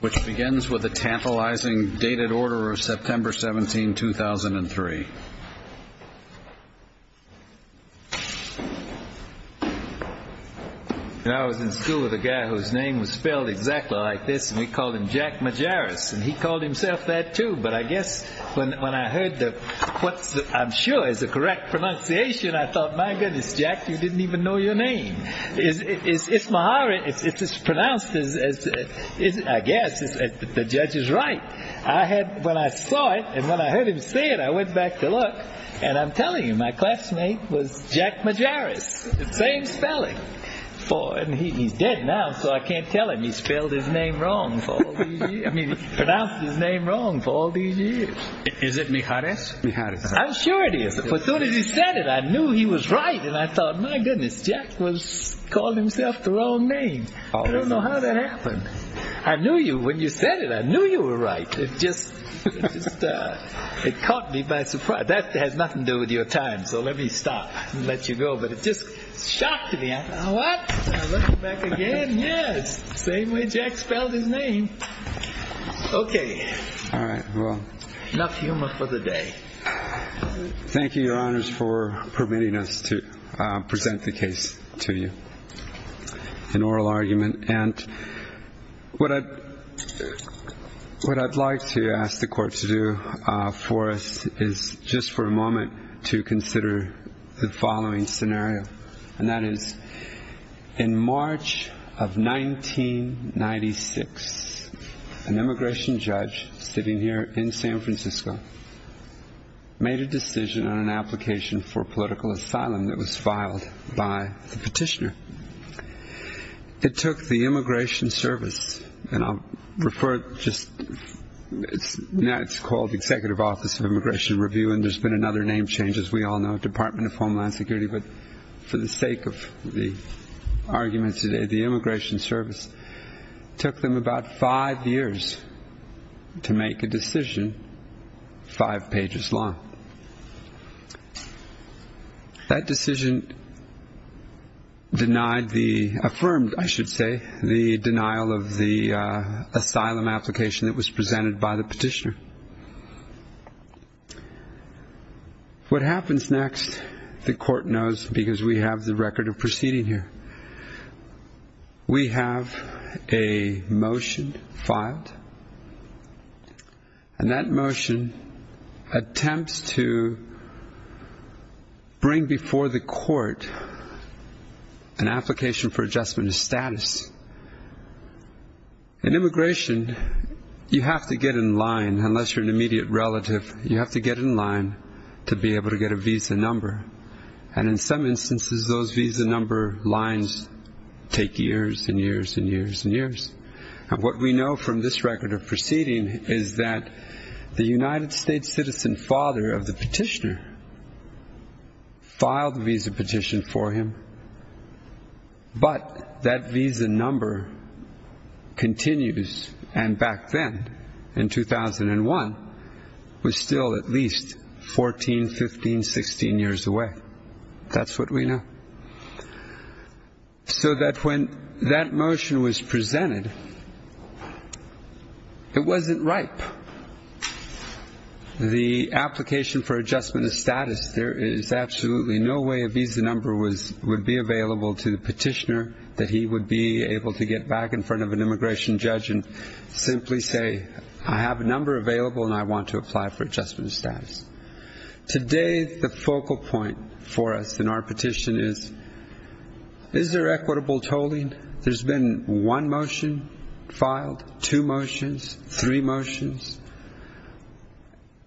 which begins with the tantalizing dated order of September 17, 2003. I was in school with a guy whose name was spelled exactly like this and we called him Jack Mijares and he called himself that too but I guess when I heard what I'm sure is the correct pronunciation I thought my goodness Jack you didn't even know your name. It's Mijares, it's pronounced as as I guess the judge is right. I had when I saw it and when I heard him say it I went back to look and I'm telling you my classmate was Jack Mijares the same spelling for and he's dead now so I can't tell him he spelled his name wrong for I mean pronounced his name wrong for all these years. Is it Mijares? I'm sure it is but soon as he said it I knew he was right and I thought my goodness Jack was calling himself the wrong name. I don't know how that happened. I knew you when you said it. I knew you were right. It just it caught me by surprise. That has nothing to do with your time so let me stop and let you go but it just shocked me. I thought what I'm looking back again yes same way Jack spelled his name. Okay all right well enough humor for the day. Thank you your honors for permitting us to present the case to you an oral argument and what I what I'd like to ask the court to do for us is just for a moment to consider the following scenario and that is in March of 1996 an immigration judge sitting here in San Francisco made a decision on an application for political asylum that was filed by the petitioner. It took the immigration service and I'll refer just it's now it's called the Executive Office of Immigration Review and there's been another name change as we all know Department of Homeland Security but for the sake of the arguments today the immigration service took them about five years to make a decision five pages long. That decision denied the affirmed I should say the denial of the asylum application that was filed. What happens next the court knows because we have the record of proceeding here. We have a motion filed and that motion attempts to bring before the court an application for adjustment of status. In immigration you have to get in line unless you're an immediate relative you have to get in line to be able to get a visa number and in some instances those visa number lines take years and years and years and years and what we know from this record of proceeding is that the United States citizen father of the petitioner filed the visa petition for him but that visa number continues and back then in 2001 was still at least 14, 15, 16 years away that's what we know. So that when that motion was presented it wasn't ripe. The application for adjustment of status there is absolutely no way a visa would be available to the petitioner that he would be able to get back in front of an immigration judge and simply say I have a number available and I want to apply for adjustment of status. Today the focal point for us in our petition is is there equitable tolling? There's been one motion filed, two motions, three motions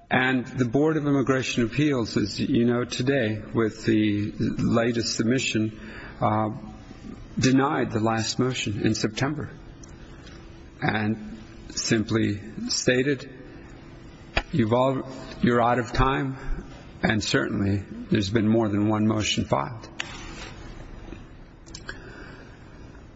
and the board of immigration appeals as you know today with the latest submission denied the last motion in September and simply stated you've all you're out of time and certainly there's been more than one motion filed.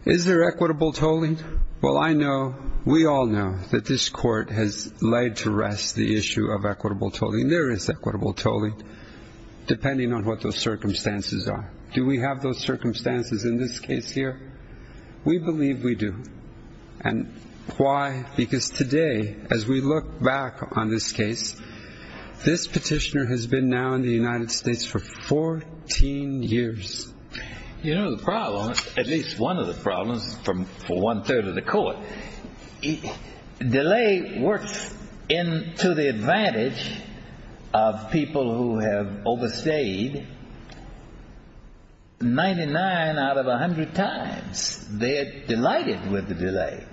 Is there equitable tolling? Well I know we all know that this court has laid to rest the issue of equitable tolling. There is equitable tolling depending on what those circumstances are. Do we have those circumstances in this case here? We believe we do and why? Because today as we look back on this case this petitioner has been now in the United States for 14 years. You know the problems from for one-third of the court. Delay works into the advantage of people who have overstayed 99 out of 100 times. They're delighted with the delay.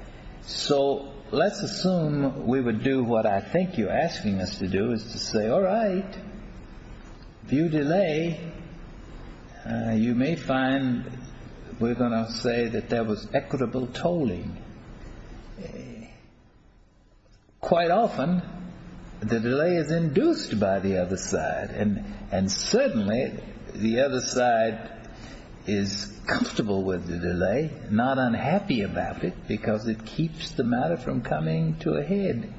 So let's assume we would do what I think you're asking us to do is to say all right if you delay you may find we're going to say that there was equitable tolling. Quite often the delay is induced by the other side and and certainly the other side is comfortable with the delay not unhappy about it because it keeps the matter from coming to a head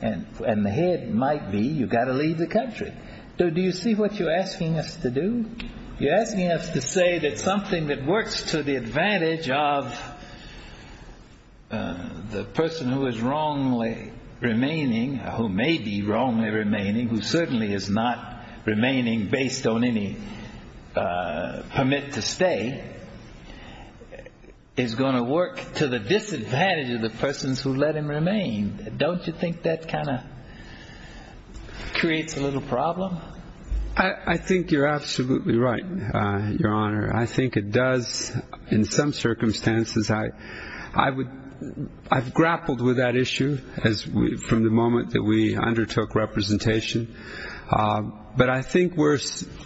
and and the head might be you've got to leave the country. So do you see what you're asking us to do? You're asking us to say that something that of the person who is wrongly remaining who may be wrongly remaining who certainly is not remaining based on any permit to stay is going to work to the disadvantage of the persons who let him remain. Don't you think that kind of creates a little problem? I think you're absolutely right your honor. I think it does in some circumstances I I would I've grappled with that issue as we from the moment that we undertook representation but I think we're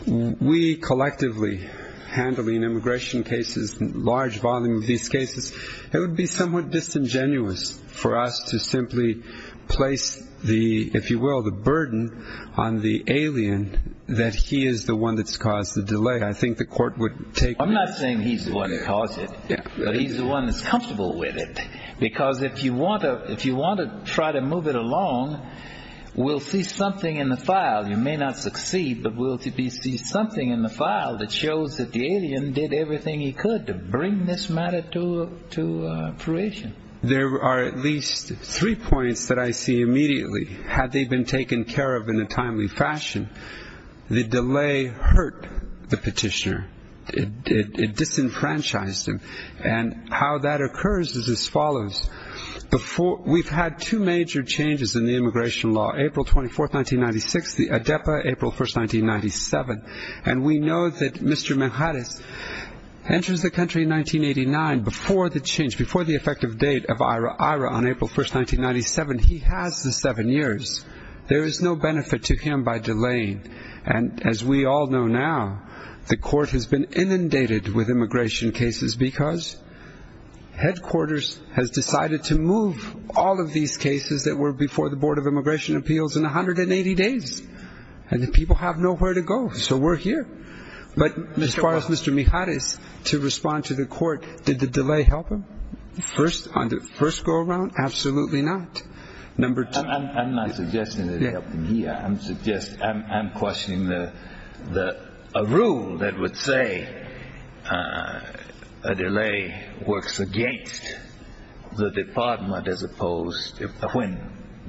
we collectively handling immigration cases large volume of these cases it would be somewhat disingenuous for us to simply place the if you will the burden on the alien that he is the one that's the delay I think the court would take I'm not saying he's the one that caused it but he's the one that's comfortable with it because if you want to if you want to try to move it along we'll see something in the file you may not succeed but we'll see something in the file that shows that the alien did everything he could to bring this matter to to fruition. There are at least three points that I see immediately had they been taken care of in a the delay hurt the petitioner it it disenfranchised him and how that occurs is as follows before we've had two major changes in the immigration law April 24th 1996 the ADEPA April 1st 1997 and we know that Mr. Mejares enters the country in 1989 before the change before the effective date of IRA on April 1st 1997 he has the seven years there is no benefit to him by delaying and as we all know now the court has been inundated with immigration cases because headquarters has decided to move all of these cases that were before the board of immigration appeals in 180 days and the people have nowhere to go so we're here but as far as Mr. Mejares to respond to the court did the delay help him first on the first go around absolutely not number two I'm not suggesting that it helped him here I'm suggesting I'm questioning the the a rule that would say uh a delay works against the department as opposed to when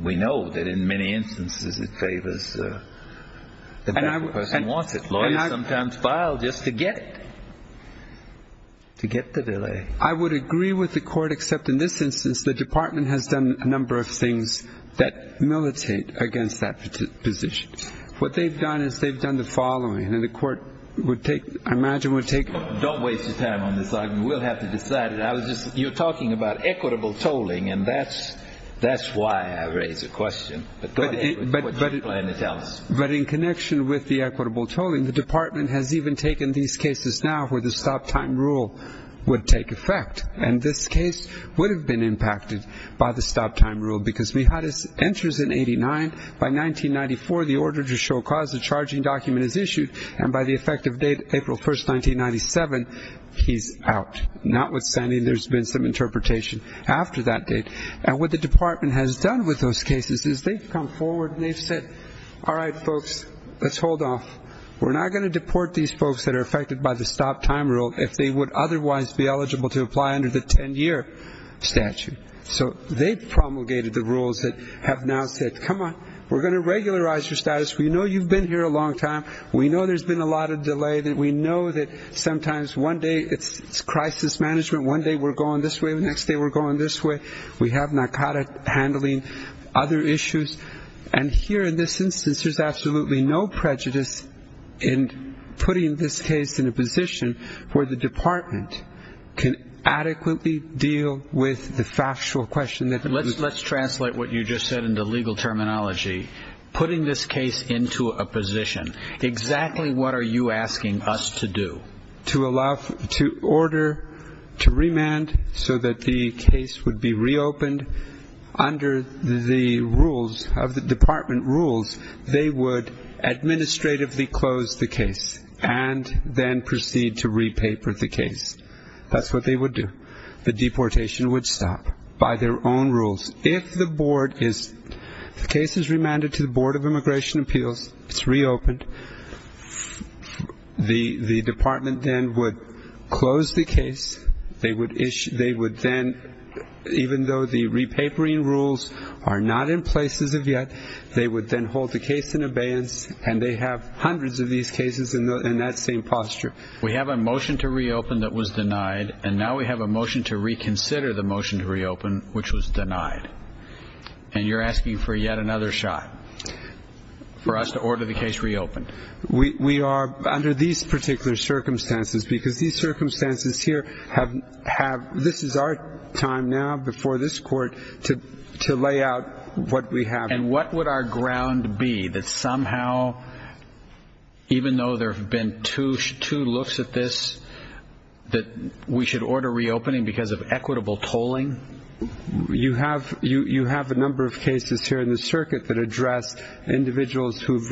we know that in many instances it favors uh the person wants it lawyers sometimes file just to get it to get the delay I would agree with the court except in this instance the department has done a number of things that militate against that position what they've done is they've done the following and the court would take I imagine would take don't waste your time on this argument we'll have to decide it I was just you're talking about equitable tolling and that's that's why I raise a question but go ahead but what do you plan to tell us but in connection with the equitable tolling the department has even taken these cases now where the stop time rule would take effect and this case would have been impacted by the stop time rule because we had his entries in 89 by 1994 the order to show cause the charging document is issued and by the effective date April 1st 1997 he's out notwithstanding there's been some interpretation after that date and what the department has done with those cases is they've come forward and they've said all right folks let's hold off we're not going to deport these folks that are affected by the stop time rule if they would otherwise be eligible to apply under the 10-year statute so they've promulgated the rules that have now said come on we're going to regularize your status we know you've been here a long time we know there's been a lot of delay that we know that sometimes one day it's it's crisis management one day we're going this way the next day we're going this way we have narcotic handling other issues and here in this instance there's absolutely no prejudice in putting this case in a position where the department can adequately deal with the factual question that let's let's translate what you just said into legal terminology putting this case into a position exactly what are you asking us to do to allow to order to remand so that the case would be reopened under the rules of the department rules they would administratively close the case and then proceed to re-paper the case that's what they would do the deportation would stop by their own rules if the board is the case is remanded to the board of immigration appeals it's reopened the the department then would close the case they would issue they would then even though the re-papering rules are not in places of yet they would then hold the case in abeyance and they have hundreds of these cases in that same posture we have a motion to reopen that was denied and now we have a motion to reconsider the motion to reopen which was denied and you're asking for yet another shot for us to order the case reopened we we are under these circumstances because these circumstances here have have this is our time now before this court to to lay out what we have and what would our ground be that somehow even though there have been two two looks at this that we should order reopening because of equitable tolling you have you you have a number of cases here in the circuit that address individuals who've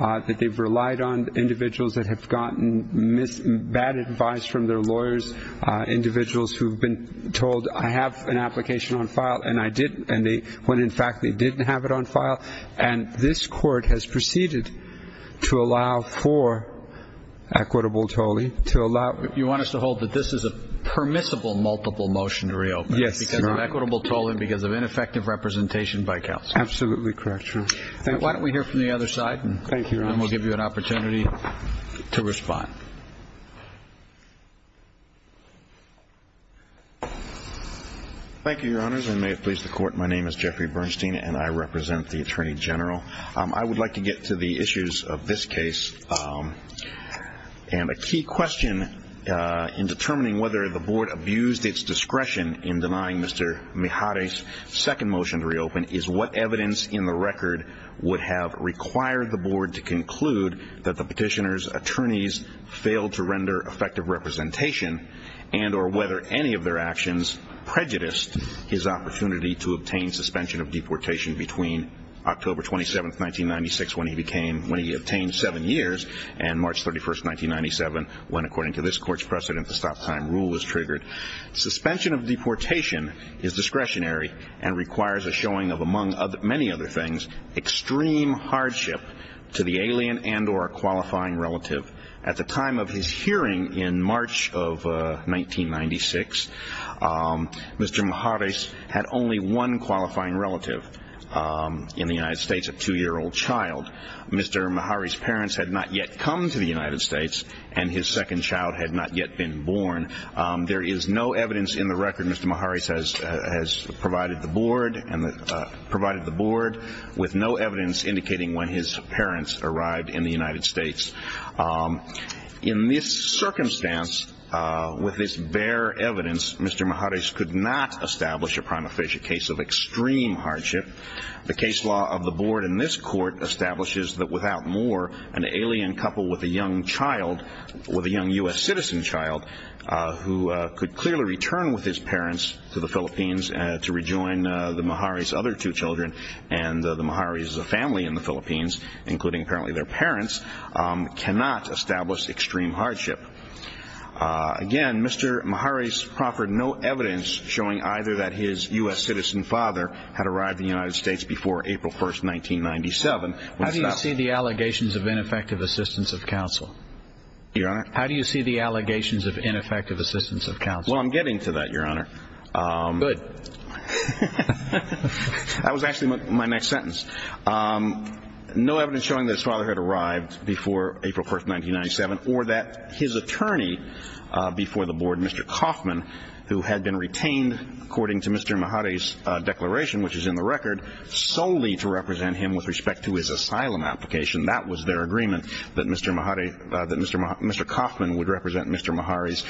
uh that they've relied on individuals that have gotten mis bad advice from their lawyers uh individuals who've been told i have an application on file and i didn't and they when in fact they didn't have it on file and this court has proceeded to allow for equitable tolling to allow you want us to hold that this is a permissible multiple motion to reopen yes because of equitable tolling because of ineffective representation by counsel absolutely correct sir why don't we hear the other side thank you and we'll give you an opportunity to respond thank you your honors i may have pleased the court my name is jeffrey bernstein and i represent the attorney general um i would like to get to the issues of this case um and a key question uh in determining whether the board abused its discretion in denying mr mihari's second motion is what evidence in the record would have required the board to conclude that the petitioner's attorneys failed to render effective representation and or whether any of their actions prejudiced his opportunity to obtain suspension of deportation between october 27th 1996 when he became when he obtained seven years and march 31st 1997 when according to this court's precedent the stop rule was triggered suspension of deportation is discretionary and requires a showing of among many other things extreme hardship to the alien and or a qualifying relative at the time of his hearing in march of 1996 um mr mihari's had only one qualifying relative um in the united states a two-year-old child mr mihari's parents had not yet come to the united states and his second child had not yet been born um there is no evidence in the record mr mihari says has provided the board and provided the board with no evidence indicating when his parents arrived in the united states um in this circumstance uh with this bare evidence mr mihari's could not establish a prima facie case of extreme hardship the case law of the board in this court establishes that without more an alien couple with a young child with a young u.s citizen child who could clearly return with his parents to the philippines and to rejoin the mihari's other two children and the mihari's family in the philippines including apparently their parents cannot establish extreme hardship again mr mihari's proffered no evidence showing either that his u.s citizen father had arrived in the united states before april 1st 1997 how do you see the allegations of ineffective assistance of counsel your honor how do you see the allegations of ineffective assistance of counsel well i'm getting to that your honor um good that was actually my next sentence um no evidence showing that his father had arrived before april 1st 1997 or that his attorney uh before the board mr kaufman who had been retained according to mr mihari's uh declaration which is in the record solely to represent him with respect to his asylum application that was their agreement that mr mihari uh that mr mr kaufman would represent mr mihari's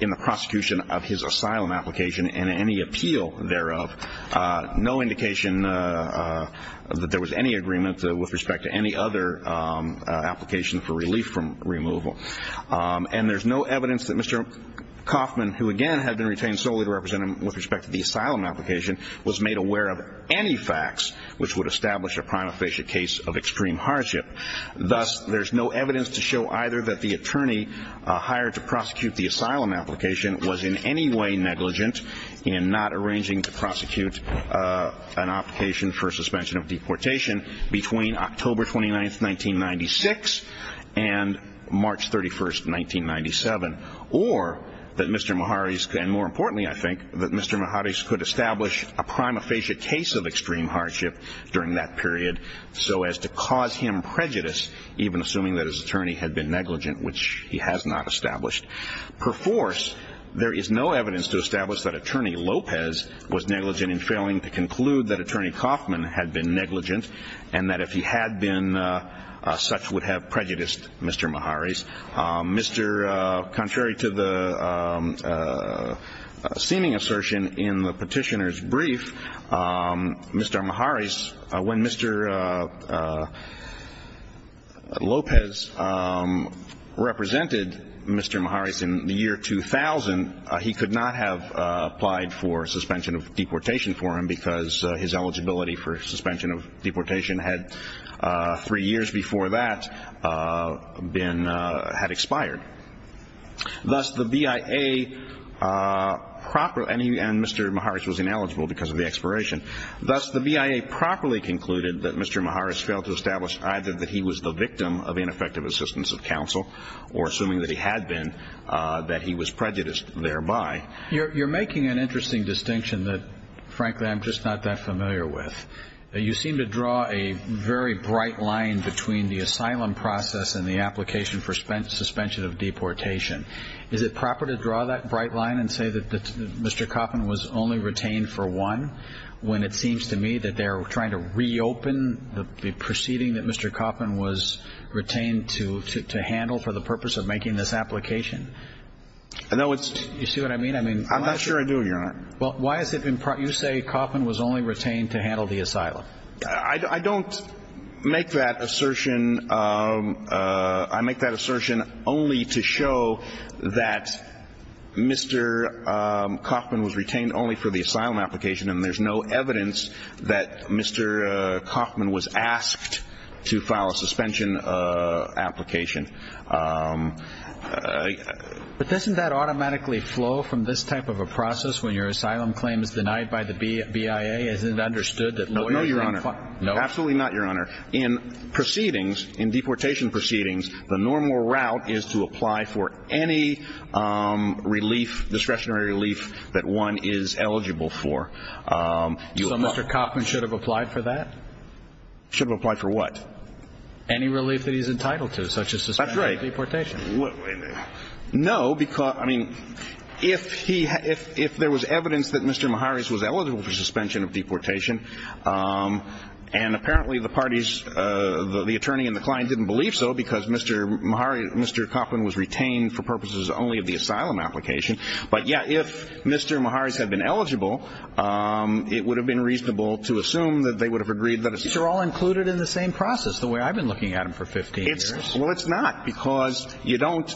in the prosecution of his asylum application and any appeal thereof uh no indication uh that there was any agreement with respect to any other um application for relief from removal um and there's no evidence that mr kaufman who again had been retained solely to represent him with respect to the asylum application was made aware of any facts which would establish a prima facie case of extreme hardship thus there's no evidence to show either that the attorney uh hired to prosecute the asylum application was in any way negligent in not arranging to prosecute uh an application for or that mr mihari's and more importantly i think that mr mihari's could establish a prima facie case of extreme hardship during that period so as to cause him prejudice even assuming that his attorney had been negligent which he has not established per force there is no evidence to establish that attorney lopez was negligent in failing to conclude that attorney kaufman had been negligent and that if he had been uh such would have prejudiced mr mihari's um mr uh contrary to the um uh seeming assertion in the petitioner's brief um mr mihari's when mr uh lopez um represented mr mihari's in the year 2000 he could not have uh applied for suspension of deportation for him because his eligibility for suspension of deportation had uh three years before that uh been uh had expired thus the bia uh proper and he and mr mihari's was ineligible because of the expiration thus the bia properly concluded that mr mihari's failed to establish either that he was the victim of ineffective assistance of counsel or assuming that he had been uh that he was prejudiced thereby you're making an interesting distinction that frankly i'm just not that familiar with you seem to draw a very bright line between the asylum process and the application for spent suspension of deportation is it proper to draw that bright line and say that mr kaufman was only retained for one when it seems to me that they're trying to reopen the proceeding that mr kaufman was retained to to handle for the purpose of making this application i know it's you see what i mean i mean i'm not sure i do you're not well why has you say kaufman was only retained to handle the asylum i don't make that assertion um uh i make that assertion only to show that mr um kaufman was retained only for the asylum application and there's no evidence that mr uh kaufman was asked to file a suspension uh application um uh but doesn't that automatically flow from this type of a process when your asylum claim is denied by the bia is it understood that no your honor no absolutely not your honor in proceedings in deportation proceedings the normal route is to apply for any um relief discretionary relief that one is eligible for um so mr kaufman should have applied for that should apply for what any relief that he's entitled to such a suspension of deportation no because i mean if he if if there was evidence that mr maharis was eligible for suspension of deportation um and apparently the parties uh the attorney and the client didn't believe so because mr mahari mr kaufman was retained for purposes only of the asylum application but yeah if mr maharis had been eligible um it would have been reasonable to assume that they would have agreed that they're all included in the same process the way i've been looking at him for 15 years well it's not because you don't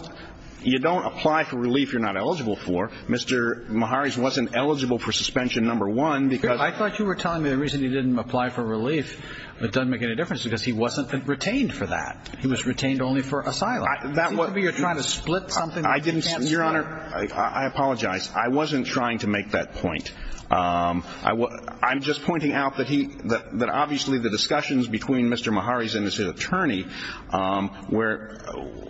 you don't apply for relief you're not eligible for mr maharis wasn't eligible for suspension number one because i thought you were telling me the reason he didn't apply for relief but doesn't make any difference because he wasn't retained for that he was retained only for asylum that would be you're trying to split something i didn't your honor i i apologize i wasn't trying to make that point um i was i'm just pointing out that he that obviously the discussions between mr mahari's and his attorney um where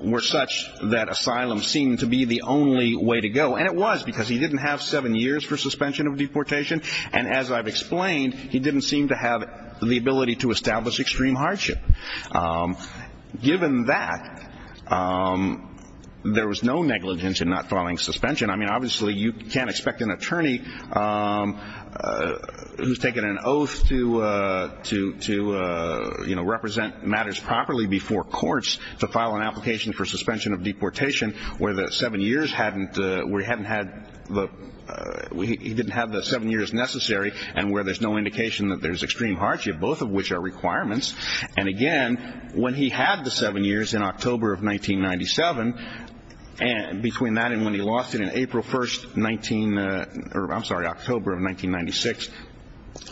were such that asylum seemed to be the only way to go and it was because he didn't have seven years for suspension of deportation and as i've explained he didn't seem to have the ability to establish extreme hardship um given that um there was no negligence in not following suspension i mean obviously you can't expect an attorney um who's taken an oath to uh to to uh you know represent matters properly before courts to file an application for suspension of deportation where the seven years hadn't uh we haven't had the he didn't have the seven years necessary and where there's no indication that there's extreme hardship both of which are requirements and again when he had the seven years in october of 1997 and between that and when he lost it in 19 or i'm sorry october of 1996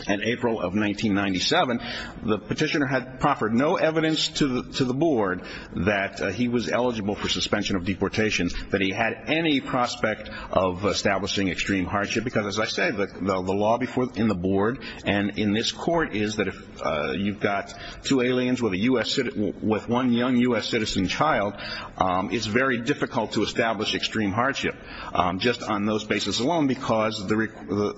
and april of 1997 the petitioner had proffered no evidence to the to the board that he was eligible for suspension of deportation that he had any prospect of establishing extreme hardship because as i say the the law before in the board and in this court is that if uh you've got two aliens with a u.s with one young u.s citizen child um it's very difficult to establish extreme hardship um just on those basis alone because the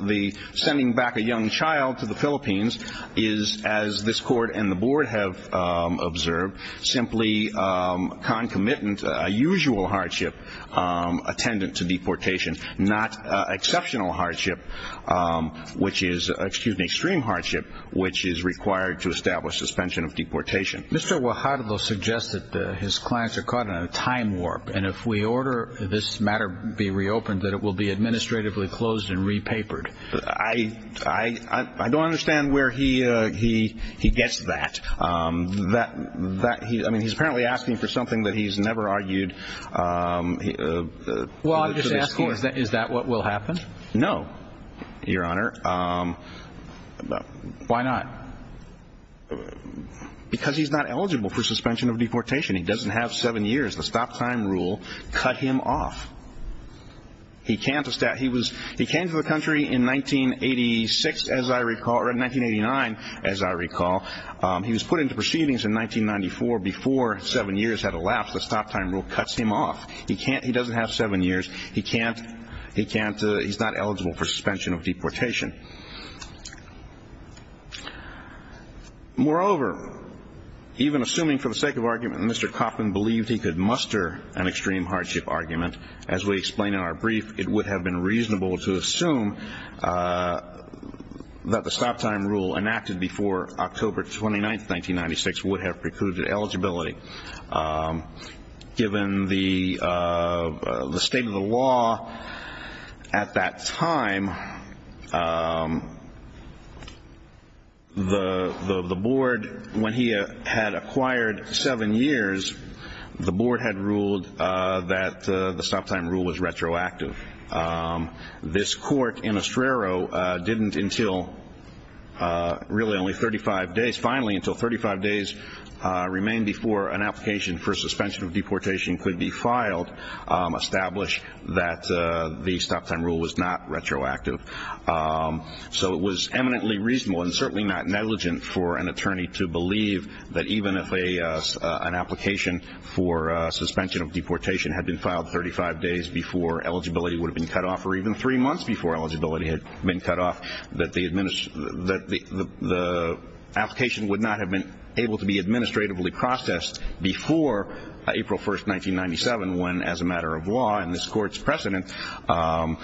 the sending back a young child to the philippines is as this court and the board have um observed simply um concomitant usual hardship um attendant to deportation not uh exceptional hardship um which is excuse me extreme hardship which is required to establish suspension of deportation mr. wahad will suggest that his clients are caught in a time warp and if we order this matter be reopened that it will be administratively closed and repapered i i i don't understand where he uh he he gets that um that that he i mean he's apparently asking for something that he's never argued um well i'm just asking is that what will happen no your honor um why not uh because he's not eligible for suspension of deportation he doesn't have seven years the stop time rule cut him off he can't establish he was he came to the country in 1986 as i recall or in 1989 as i recall um he was put into proceedings in 1994 before seven years had elapsed the stop time rule cuts him off he can't he doesn't have seven years he can't he can't uh he's not eligible for suspension of deportation moreover even assuming for the sake of argument mr kaufman believed he could muster an extreme hardship argument as we explain in our brief it would have been reasonable to assume that the stop time rule enacted before october 29th 1996 would have precluded eligibility um given the uh the state of the law at that time the the the board when he had acquired seven years the board had ruled uh that the stop time rule was retroactive um this court in ostrero uh didn't until uh really only 35 days finally until 35 days uh remained before an application for suspension of deportation could be filed um established that uh the stop time rule was not retroactive so it was eminently reasonable and certainly not negligent for an attorney to believe that even if a an application for uh suspension of deportation had been filed 35 days before eligibility would have been cut off or even three months before eligibility had been cut off that the administer that the the application would not have been able to be administratively processed before april 1st 1997 when as a matter of law and this court's precedent um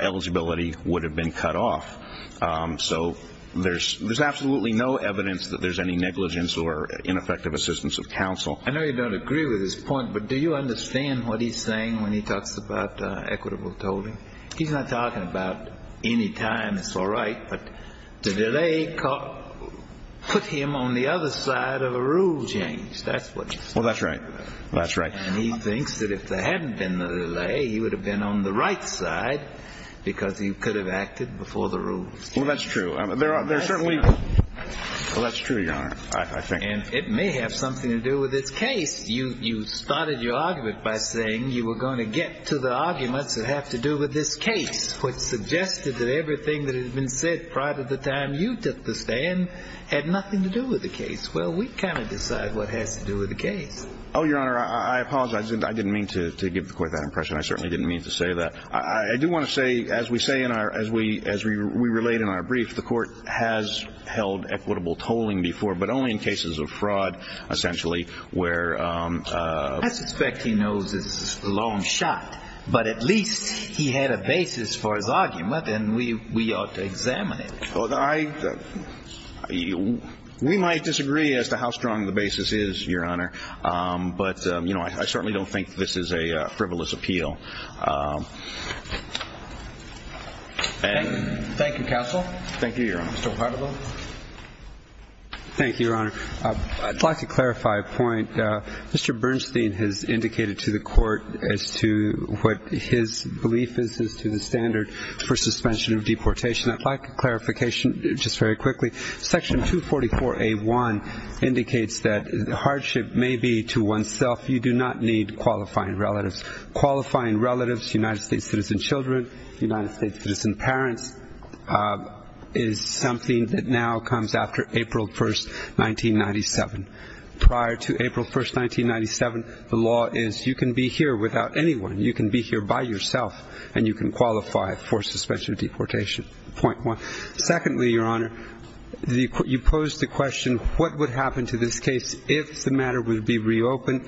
eligibility would have been cut off um so there's there's absolutely no evidence that there's any negligence or ineffective assistance of counsel i know you don't agree with this point but do you understand what he's saying when he talks about uh equitable tolling he's not talking about any time it's all right but the delay put him on the other side of a rule change that's what well that's right that's right and he thinks that if there hadn't been the delay he would have been on the right side because he could have acted before the rules well that's true there are there certainly well that's true your honor i think and it may have something to do with this case you you started your argument by saying you were going to get to the arguments that have to do with this case which suggested that everything that has been said prior to the time you took the stand had nothing to do with the case well we kind of decide what has to do with the case oh your honor i i apologize i didn't mean to to give the court that impression i certainly didn't mean to say that i i do want to say as we say in our as we as we we relate in our brief the court has held equitable tolling before but only in cases of fraud essentially where um i suspect he knows his long shot but at least he had a basis for his argument and we we ought to examine it well i we might disagree as to how strong the basis is your honor um but um you know i certainly don't think this is a frivolous appeal and thank you counsel thank you your honor thank you your honor uh i'd like to clarify a point uh mr bernstein has indicated to the court as to what his belief is is to the standard for suspension of deportation i'd like a clarification just very quickly section 244a1 indicates that the hardship may be to oneself you do not need qualifying relatives qualifying relatives united states citizen children united states citizen uh is something that now comes after april 1st 1997 prior to april 1st 1997 the law is you can be here without anyone you can be here by yourself and you can qualify for suspension deportation point one secondly your honor the you pose the question what would happen to this case if the matter would be reopened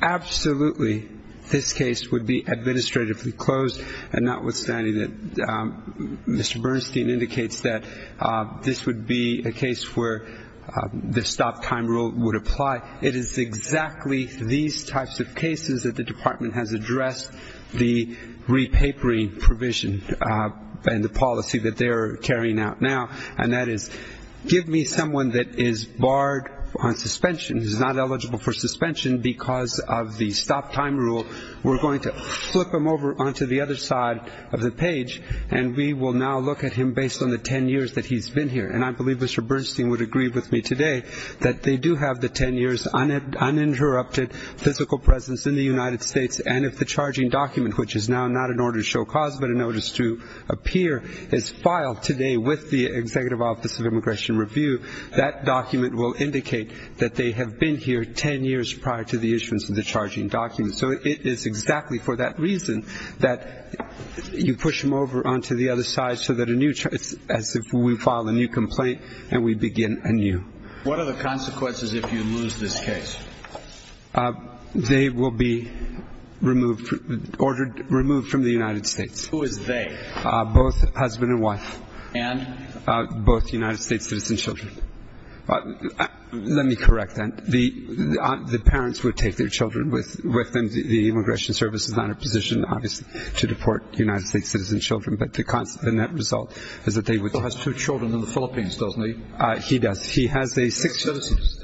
absolutely this case would be administratively closed and notwithstanding that um mr bernstein indicates that uh this would be a case where the stop time rule would apply it is exactly these types of cases that the department has addressed the repapering provision and the policy that they're carrying out now and that is give me someone that is barred on suspension who's not eligible for suspension because of the stop time rule we're going to and we will now look at him based on the 10 years that he's been here and i believe mr bernstein would agree with me today that they do have the 10 years uninterrupted physical presence in the united states and if the charging document which is now not in order to show cause but a notice to appear is filed today with the executive office of immigration review that document will indicate that they have been here 10 years prior to the issuance of the charging document so it is exactly for that reason that you push them over onto the other side so that a new choice as if we file a new complaint and we begin anew what are the consequences if you lose this case they will be removed ordered removed from the united states who is they both husband and wife and both united states citizen children let me correct that the the parents would take their children with with them the immigration service is not a position obviously to deport united states citizen children but the constant the net result is that they would has two children in the philippines doesn't he uh he does he has a six citizens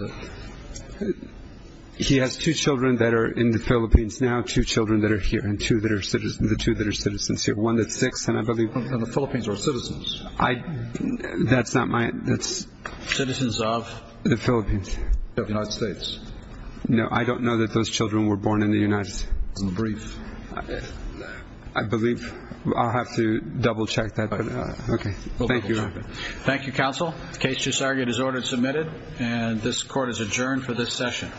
he has two children that are in the philippines now two children that are here and two that are citizens the two that are citizens here one that's six and i believe in the philippines i that's not my that's citizens of the philippines of united states no i don't know that those children were born in the united states in the brief i believe i'll have to double check that okay thank you thank you counsel case just argued is ordered submitted and this court is adjourned for this session